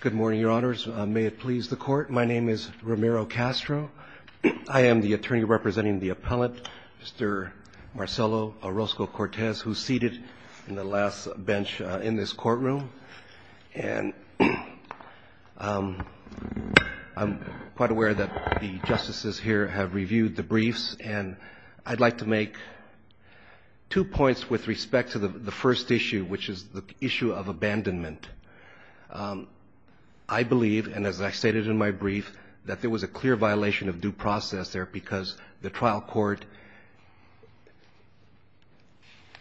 Good morning, your honors. May it please the court. My name is Romero Castro. I am the attorney representing the appellant, Mr. Marcelo Orozco-Cortez, who's seated in the last bench in this courtroom. And I'm quite aware that the justices here have reviewed the briefs, and I'd like to make two points with respect to the first issue, which is the issue of abandonment. I believe, and as I stated in my brief, that there was a clear violation of due process there, because the trial court,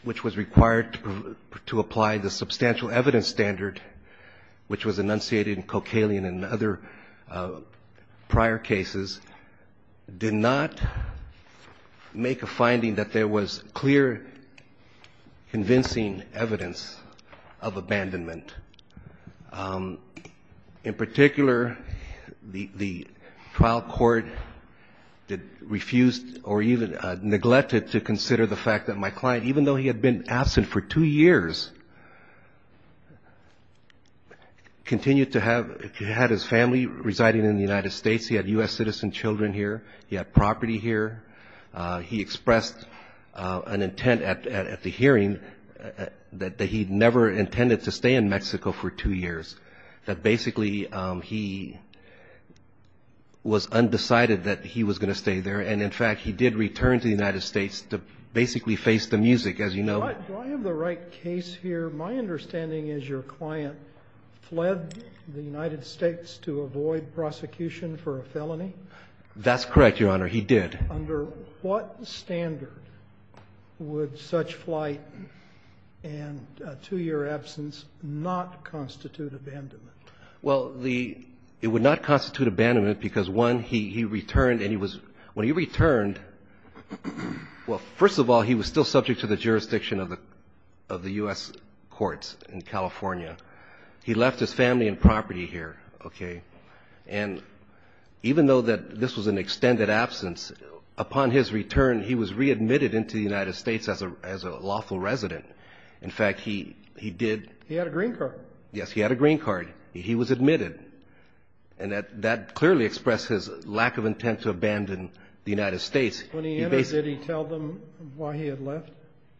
which was required to apply the substantial evidence standard, which was enunciated in Cochalian and other prior cases, did not make a finding that there was clear convincing evidence of abandonment. In particular, the trial court refused or even neglected to consider the fact that my client, even though he had been absent for two years, continued to have his family residing in the United States. He had U.S. citizen children here. He had property here. He expressed an intent at the hearing that he never intended to stay in Mexico for two years, that basically he was undecided that he was going to stay there. And in fact, he did return to the United States to basically face the music, as you know. Do I have the right case here? My understanding is your client fled the United States to avoid prosecution for a felony? That's correct, Your Honor. He did. Under what standard would such flight and two-year absence not constitute abandonment? Well, it would not constitute abandonment because, one, he returned and he was, when he returned, well, first of all, he was still subject to the jurisdiction of the U.S. courts in California. He left his family and property here, okay, and even though that this was an extended absence, upon his return, he was readmitted into the United States as a lawful resident. In fact, he did. He had a green card. Yes, he had a green card. He was admitted. And that clearly expressed his lack of intent to abandon the United States. When he entered, did he tell them why he had left?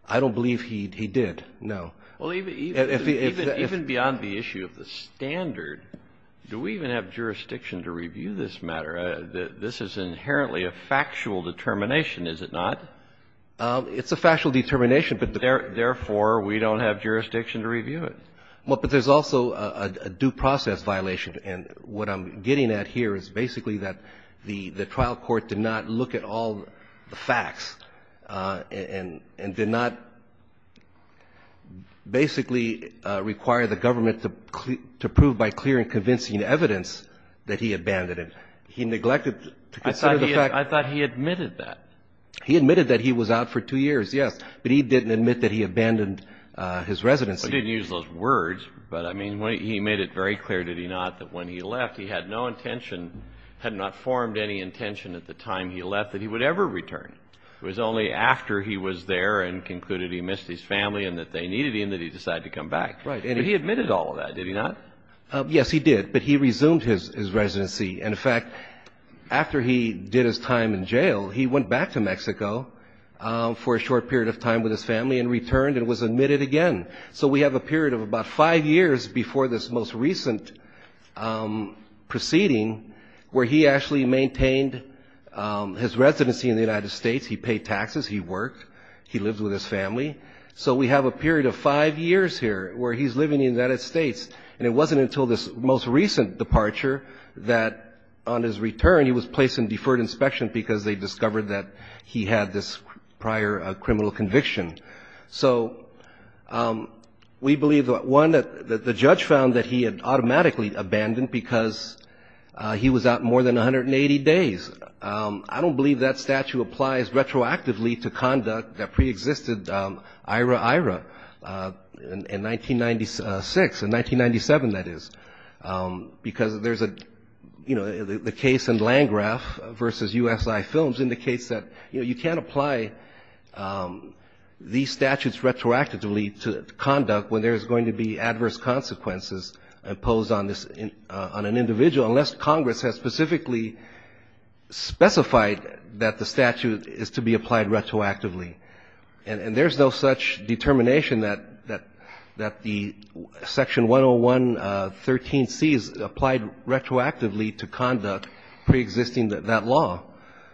I don't believe he did, no. Well, even beyond the issue of the standard, do we even have jurisdiction to review this matter? This is inherently a factual determination, is it not? It's a factual determination, but therefore, we don't have jurisdiction to review it. Well, but there's also a due process violation, and what I'm getting at here is basically that the trial court did not look at all the facts and did not basically require the government to prove by clear and convincing evidence that he abandoned. He neglected to consider the fact that he was out for two years, yes, but he didn't admit that he abandoned his residency. He didn't use those words, but I mean, he made it very clear, did he not, that when he left, he had no intention, had not formed any intention at the time he left that he would ever return. It was only after he was there and concluded he missed his family and that they needed him that he decided to come back. Right. And he admitted all of that, did he not? Yes, he did, but he resumed his residency. And in fact, after he did his time in jail, he went back to Mexico for a short period of time with his family and returned and was admitted again. So we have a period of about five years before this most recent proceeding where he actually maintained his residency in the United States. He paid taxes. He worked. He lived with his family. So we have a period of five years here where he's living in the United States, and it wasn't until this most recent departure that on his return, he was placed in deferred inspection because they discovered that he had this prior criminal conviction. So we believe, one, that the judge found that he had automatically abandoned because he was out more than 180 days. I don't believe that statute applies retroactively to conduct that preexisted IRA-IRA in 1996, in 1997, that is, because there's a, you know, the case in Landgraf versus USI Films indicates that, you know, you can't apply these statutes retroactively to conduct when there's going to be adverse consequences imposed on an individual unless Congress has specifically specified that the statute is to be applied retroactively. And there's no such determination that the Section 101.13c is applied retroactively to conduct preexisting that law.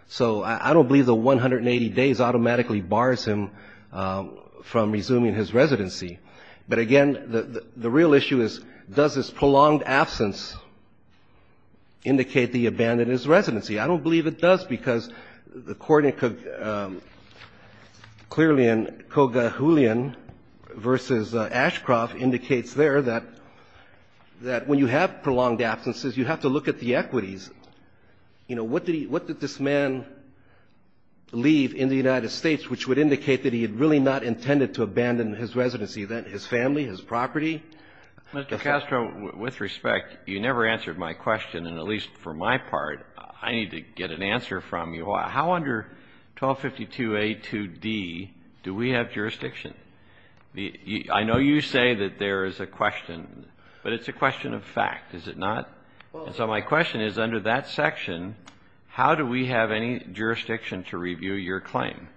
So I don't believe the 180 days automatically bars him from resuming his residency. But, again, the real issue is, does this prolonged absence indicate that he abandoned his residency? I don't believe it does because the coordinate clearly in Kogahulian versus Ashcroft indicates there that when you have prolonged absences, you have to look at the equities. You know, what did he, what did this man leave in the United States which would indicate that he had really not intended to abandon his residency, his family, his property? Mr. Castro, with respect, you never answered my question, and at least for my part, I need to get an answer from you. How under 1252A.2d do we have jurisdiction? I know you say that there is a question, but it's a question of fact, is it not? And so my question is, under that section, how do we have any jurisdiction to review your claim?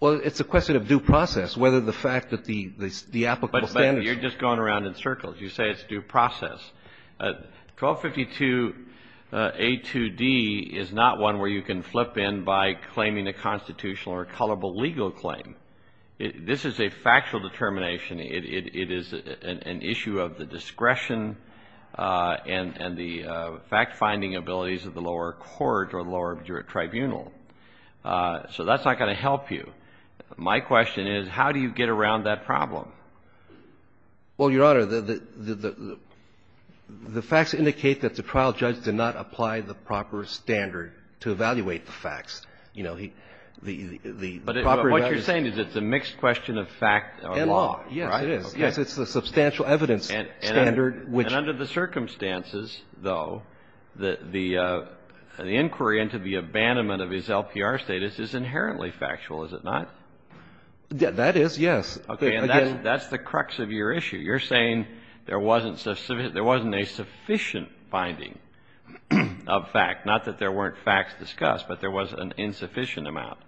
Well, it's a question of due process, whether the fact that the applicable standards. You're just going around in circles. You say it's due process. 1252A.2d is not one where you can flip in by claiming a constitutional or colorable legal claim. This is a factual determination. It is an issue of the discretion and the fact-finding abilities of the lower court or the lower tribunal. So that's not going to help you. My question is, how do you get around that problem? Well, Your Honor, the facts indicate that the trial judge did not apply the proper standard to evaluate the facts. You know, the proper evidence But what you're saying is it's a mixed question of fact or law. Yes, it is. Yes, it's the substantial evidence standard, which And under the circumstances, though, the inquiry into the abandonment of his LPR status is inherently factual, is it not? That is, yes. Okay. And that's the crux of your issue. You're saying there wasn't a sufficient finding of fact, not that there weren't facts discussed, but there was an insufficient amount.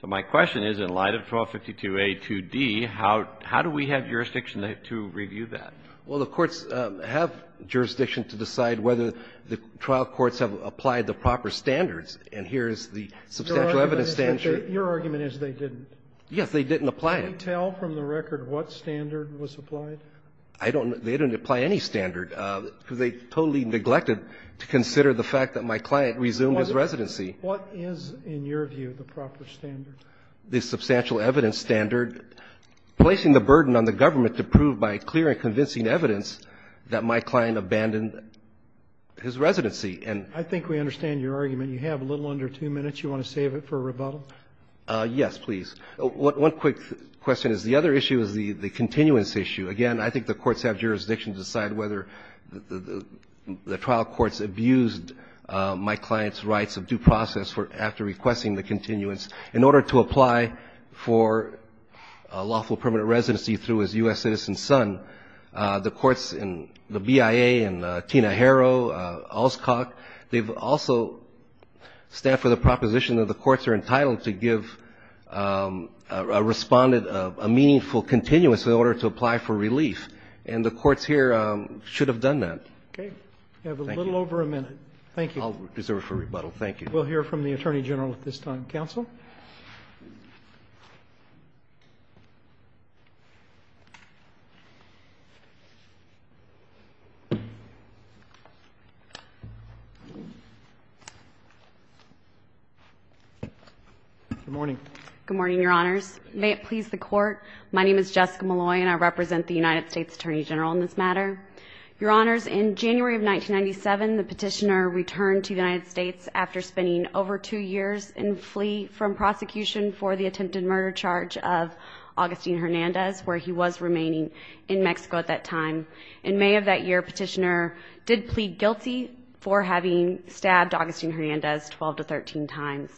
So my question is, in light of 1252a2d, how do we have jurisdiction to review that? Well, the courts have jurisdiction to decide whether the trial courts have applied the proper standards, and here is the substantial evidence standard. Your argument is they didn't. Yes, they didn't apply it. Can we tell from the record what standard was applied? I don't know. They didn't apply any standard, because they totally neglected to consider the fact that my client resumed his residency. What is, in your view, the proper standard? The substantial evidence standard, placing the burden on the government to prove by clear and convincing evidence that my client abandoned his residency. And I think we understand your argument. You have a little under two minutes. You want to save it for rebuttal? Yes, please. One quick question is the other issue is the continuance issue. Again, I think the courts have jurisdiction to decide whether the trial courts abused my client's rights of due process after requesting the continuance in order to apply for a lawful permanent residency through his U.S. citizen son. The courts in the BIA and Tina Harrow, Alscock, they've also stand for the proposition that the courts are entitled to give a respondent a meaningful continuance in order to apply for relief. And the courts here should have done that. Okay. You have a little over a minute. Thank you. I'll reserve it for rebuttal. Thank you. We'll hear from the Attorney General at this time. Counsel? Good morning. Good morning, Your Honors. May it please the Court, my name is Jessica Malloy and I represent the United States Attorney General in this matter. Your Honors, in January of 1997, the petitioner returned to the United States after spending over two years in flee from prosecution for the attempted murder charge of Augustine Hernandez where he was remaining in Mexico at that time. In May of that year, petitioner did plead guilty for having stabbed Augustine Hernandez 12 to 13 times.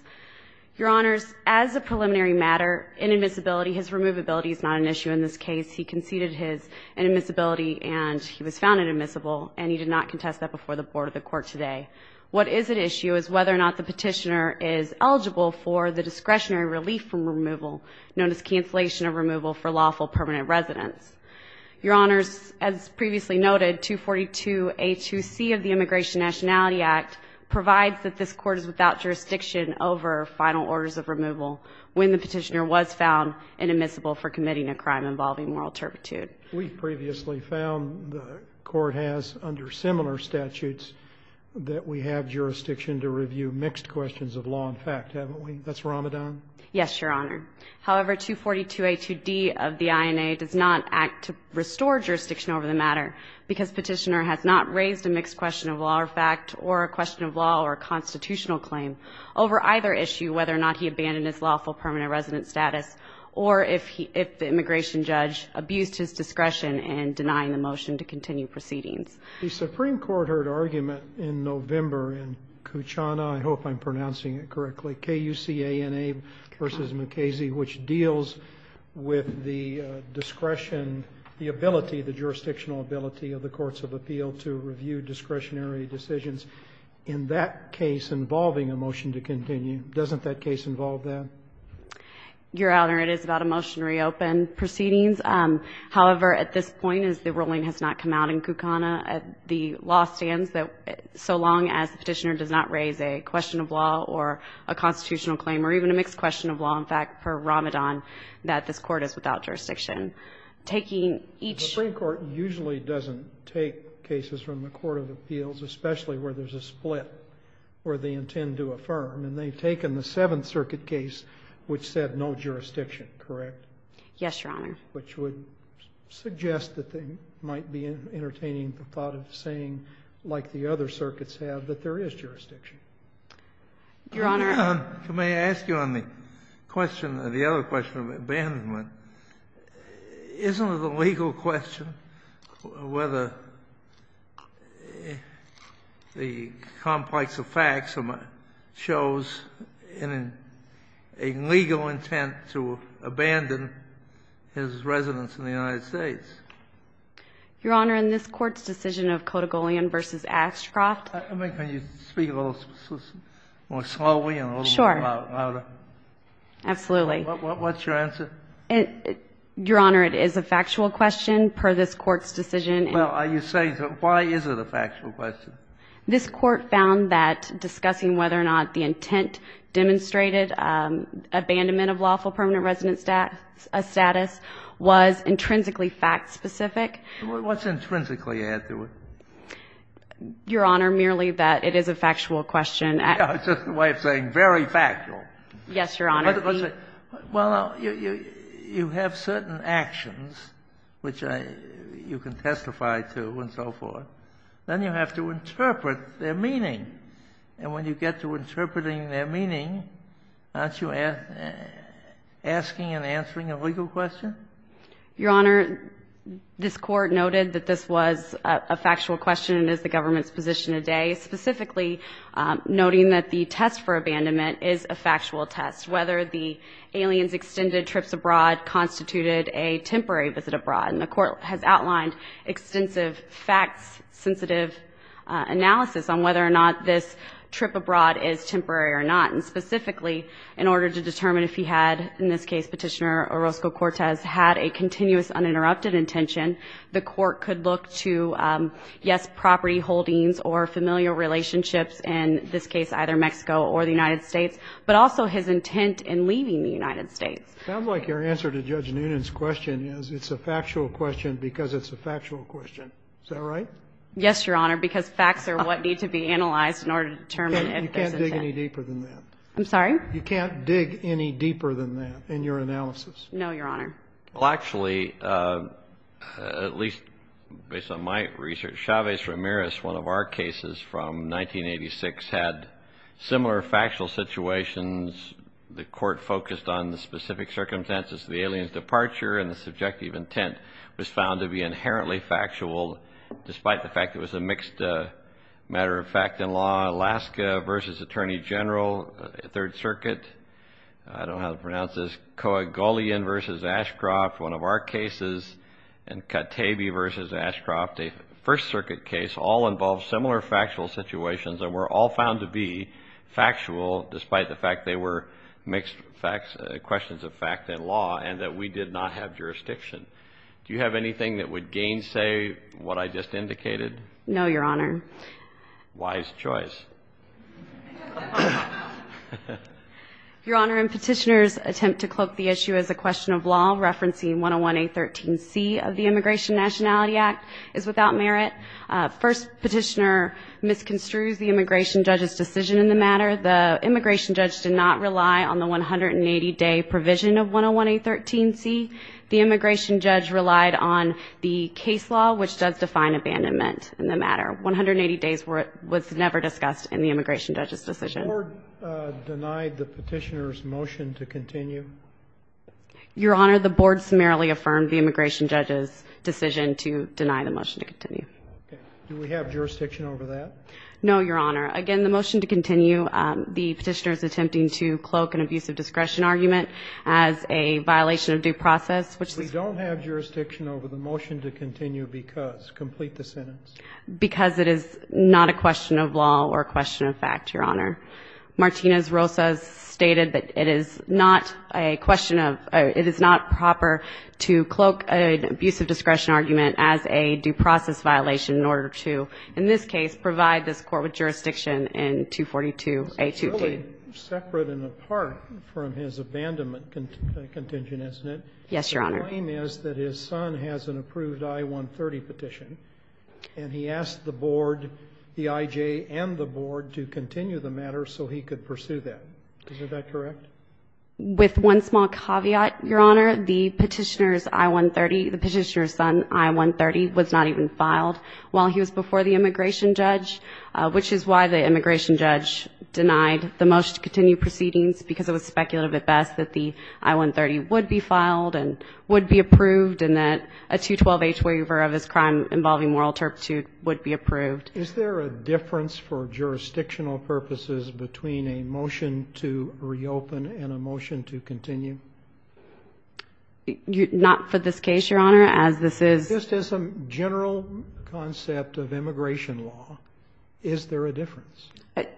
Your Honors, as a preliminary matter, inadmissibility, his removability is not an issue in this case. He conceded his inadmissibility and he was found inadmissible and he did not contest that before the Board of the Court today. What is an issue is whether or not the petitioner is eligible for the discretionary relief from removal known as cancellation of removal for lawful permanent residents. Your Honors, as previously noted, 242A2C of the Immigration Nationality Act provides that this court is without jurisdiction over final orders of removal when the petitioner was found inadmissible for committing a crime involving moral turpitude. We previously found the court has under similar statutes that we have jurisdiction to review mixed questions of law and fact, haven't we? That's Ramadan? Yes, Your Honor. However, 242A2D of the INA does not act to restore jurisdiction over the matter because petitioner has not raised a mixed question of law or fact or a question of law or a constitutional claim over either issue whether or not he abandoned his lawful permanent resident status or if the immigration judge abused his discretion in denying the motion to continue proceedings. The Supreme Court heard argument in November in Kuchana, I hope I'm pronouncing it correctly, K-U-C-A-N-A versus McKazy, which deals with the discretion, the ability, the jurisdictional ability of the courts of appeal to review discretionary decisions in that case involving a motion to continue. Doesn't that case involve that? Your Honor, it is about a motion to reopen proceedings. However, at this point, as the ruling has not come out in Kuchana, the law stands that so long as the petitioner does not raise a question of law or a constitutional claim or even a mixed question of law and fact for Ramadan, that this court is without jurisdiction. Taking each... The Supreme Court usually doesn't take cases from the court of appeals, especially where there's a split, where they intend to affirm, and they've taken the Seventh Circuit case which said no jurisdiction, correct? Yes, Your Honor. Which would suggest that they might be entertaining the thought of saying, like the other circuits have, that there is jurisdiction. Your Honor... May I ask you on the question, the other question of abandonment, isn't it a legal question whether the complex of facts shows a legal intent to abandon his residence in the United States? Your Honor, in this court's decision of Kodigolian v. Ashcroft... I mean, can you speak a little more slowly and a little louder? Sure. Absolutely. What's your answer? Your Honor, it is a factual question per this court's decision. Well, are you saying that why is it a factual question? This court found that discussing whether or not the intent demonstrated, abandonment of lawful permanent residence status was intrinsically fact-specific. What's intrinsically add to it? Your Honor, merely that it is a factual question. It's just a way of saying very factual. Yes, Your Honor. Well, you have certain actions which you can testify to and so forth. Then you have to interpret their meaning. And when you get to interpreting their meaning, aren't you asking and answering a legal question? Your Honor, this court noted that this was a factual question and is the government's position today, specifically noting that the test for abandonment is a factual test, whether the aliens extended trips abroad constituted a temporary visit abroad. And the court has outlined extensive facts-sensitive analysis on whether or not this trip abroad is temporary or not. And specifically, in order to determine if he had, in this case, Petitioner Orozco Cortez, had a continuous uninterrupted intention, the court could look to, yes, property holdings or familial relationships, in this case either Mexico or the United States, but also his intent in leaving the United States. It sounds like your answer to Judge Noonan's question is it's a factual question because it's a factual question. Is that right? Yes, Your Honor, because facts are what need to be analyzed in order to determine if there's intent. You can't dig any deeper than that. I'm sorry? You can't dig any deeper than that in your analysis. No, Your Honor. Well, actually, at least based on my research, Chavez Ramirez, one of our cases from 1986, had similar factual situations. The court focused on the specific circumstances of the alien's departure, and the subjective intent was found to be inherently factual, despite the fact it was a mixed matter of fact and law. Alaska v. Attorney General, Third Circuit, I don't know how to pronounce this, Koegolian v. Ashcroft, one of our cases, and Katebe v. Ashcroft, a First Circuit case, all involved similar factual situations and were all found to be factual, despite the fact they were mixed questions of fact and law, and that we did not have jurisdiction. Do you have anything that would gainsay what I just indicated? No, Your Honor. Wise choice. Your Honor, in Petitioner's attempt to cloak the issue as a question of law, referencing the 101A13C of the Immigration Nationality Act is without merit. First Petitioner misconstrues the immigration judge's decision in the matter. The immigration judge did not rely on the 180-day provision of 101A13C. The immigration judge relied on the case law, which does define abandonment in the matter. One hundred and eighty days was never discussed in the immigration judge's decision. The Court denied the Petitioner's motion to continue. Your Honor, the Board summarily affirmed the immigration judge's decision to deny the motion to continue. Do we have jurisdiction over that? No, Your Honor. Again, the motion to continue, the Petitioner's attempting to cloak an abuse of discretion argument as a violation of due process, which is the case. We don't have jurisdiction over the motion to continue because, complete the sentence. Because it is not a question of law or a question of fact, Your Honor. Martinez-Rosas stated that it is not a question of, it is not proper to cloak an abuse of discretion argument as a due process violation in order to, in this case, provide this court with jurisdiction in 242A2D. Separate and apart from his abandonment contingent, isn't it? Yes, Your Honor. The claim is that his son has an approved I-130 petition, and he asked the Board, the Petitioner's son, to file an I-130 letter so he could pursue that. Is that correct? With one small caveat, Your Honor, the Petitioner's I-130, the Petitioner's son, I-130, was not even filed while he was before the immigration judge, which is why the immigration judge denied the motion to continue proceedings because it was speculated at best that the I-130 would be filed and would be approved and that a 212H waiver of his crime involving moral turpitude would be approved. Is there a difference for jurisdictional purposes between a motion to reopen and a motion to continue? Not for this case, Your Honor, as this is... Just as a general concept of immigration law, is there a difference?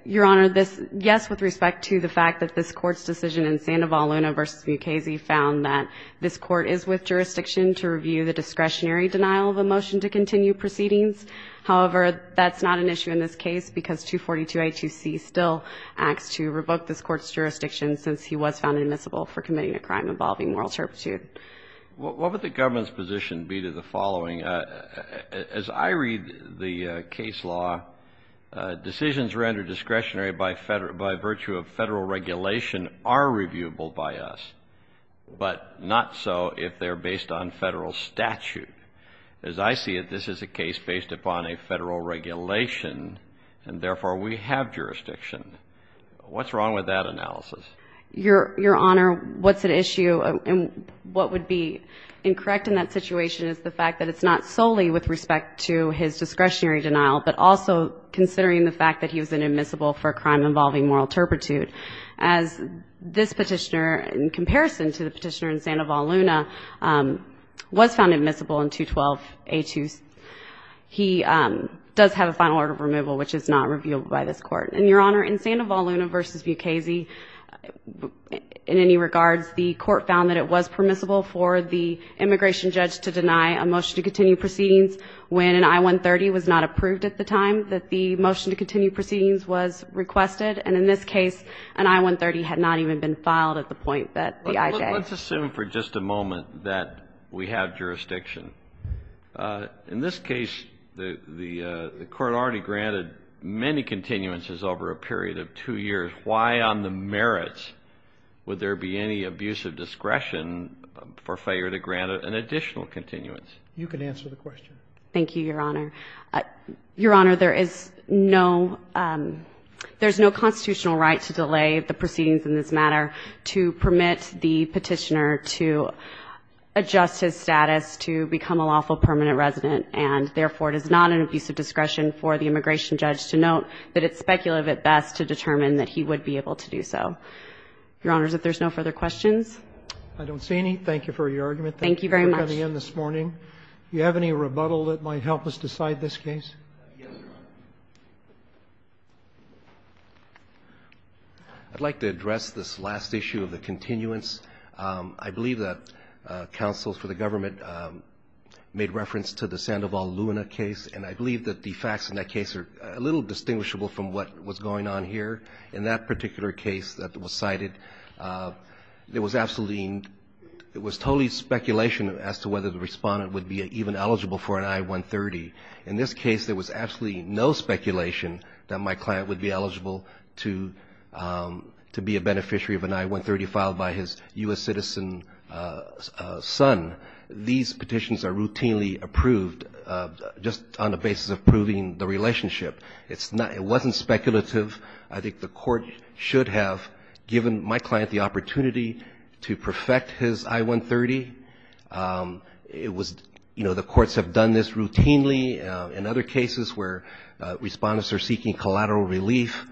Your Honor, yes, with respect to the fact that this Court's decision in Sandoval-Luna v. Mukasey found that this Court is with jurisdiction to review the discretionary by virtue of federal regulation are reviewable by us, but not so if they're based on federal statute. in Sandoval-Luna v. Mukasey found that this Court's decision in Sandoval-Luna v. Mukasey statute. As I see it, this is a case based upon a federal regulation, and therefore, we have jurisdiction. What's wrong with that analysis? Your Honor, what's at issue and what would be incorrect in that situation is the fact that it's not solely with respect to his discretionary denial, but also considering the fact that he was inadmissible for a crime involving moral turpitude. As this petitioner, in comparison to the petitioner in Sandoval-Luna, was found admissible in 212A2. He does have a final order of removal, which is not reviewable by this Court. And, Your Honor, in Sandoval-Luna v. Mukasey, in any regards, the Court found that it was permissible for the immigration judge to deny a motion to continue proceedings when an I-130 was not approved at the time that the motion to continue proceedings was requested. And in this case, an I-130 had not even been filed at the point that the IJ. Let's assume for just a moment that we have jurisdiction. In this case, the Court already granted many continuances over a period of two years. Why, on the merits, would there be any abuse of discretion for failure to grant an additional continuance? You can answer the question. Thank you, Your Honor. Your Honor, there is no constitutional right to delay the proceedings in this matter to permit the petitioner to adjust his status to become a lawful permanent resident. And, therefore, it is not an abuse of discretion for the immigration judge to note that it's speculative at best to determine that he would be able to do so. Your Honors, if there's no further questions? I don't see any. Thank you for your argument. Thank you very much. We're going to try again this morning. Do you have any rebuttal that might help us decide this case? Yes, Your Honor. I'd like to address this last issue of the continuance. I believe that counsels for the government made reference to the Sandoval-Luena case, and I believe that the facts in that case are a little distinguishable from what was going on here. In that particular case that was cited, there was absolutely no — whether the respondent would be even eligible for an I-130. In this case, there was absolutely no speculation that my client would be eligible to be a beneficiary of an I-130 filed by his U.S. citizen son. These petitions are routinely approved just on the basis of proving the relationship. It wasn't speculative. I think the court should have given my client the opportunity to perfect his I-130. It was — you know, the courts have done this routinely in other cases where respondents are seeking collateral relief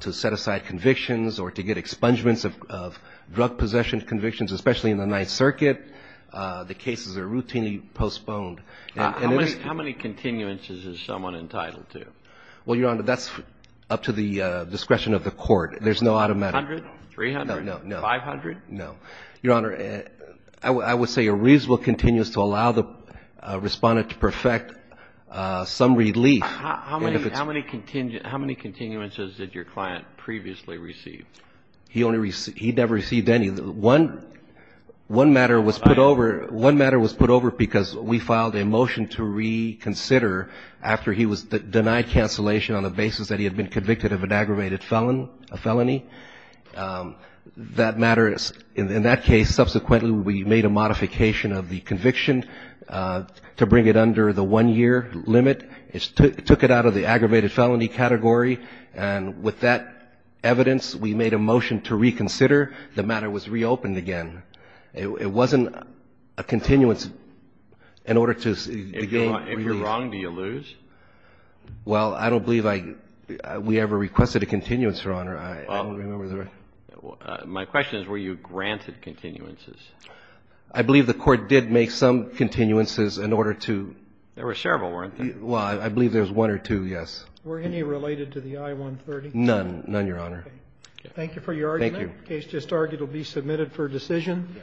to set aside convictions or to get expungements of drug possession convictions, especially in the Ninth Circuit. The cases are routinely postponed. How many continuances is someone entitled to? Well, Your Honor, that's up to the discretion of the court. There's no automatic — A hundred? Three hundred? Five hundred? No. Your Honor, I would say a reasonable continuous to allow the respondent to perfect some relief. How many continuances did your client previously receive? He only received — he never received any. One matter was put over because we filed a motion to reconsider after he was denied cancellation on the basis that he had been convicted of an aggravated felony. That matter — in that case, subsequently we made a modification of the conviction to bring it under the one-year limit. It took it out of the aggravated felony category. And with that evidence, we made a motion to reconsider. The matter was reopened again. It wasn't a continuance in order to — If you're wrong, do you lose? I don't remember. My question is, were you granted continuances? I believe the court did make some continuances in order to — There were several, weren't there? Well, I believe there was one or two, yes. Were any related to the I-130? None. None, Your Honor. Thank you for your argument. Thank you. The case just argued will be submitted for decision.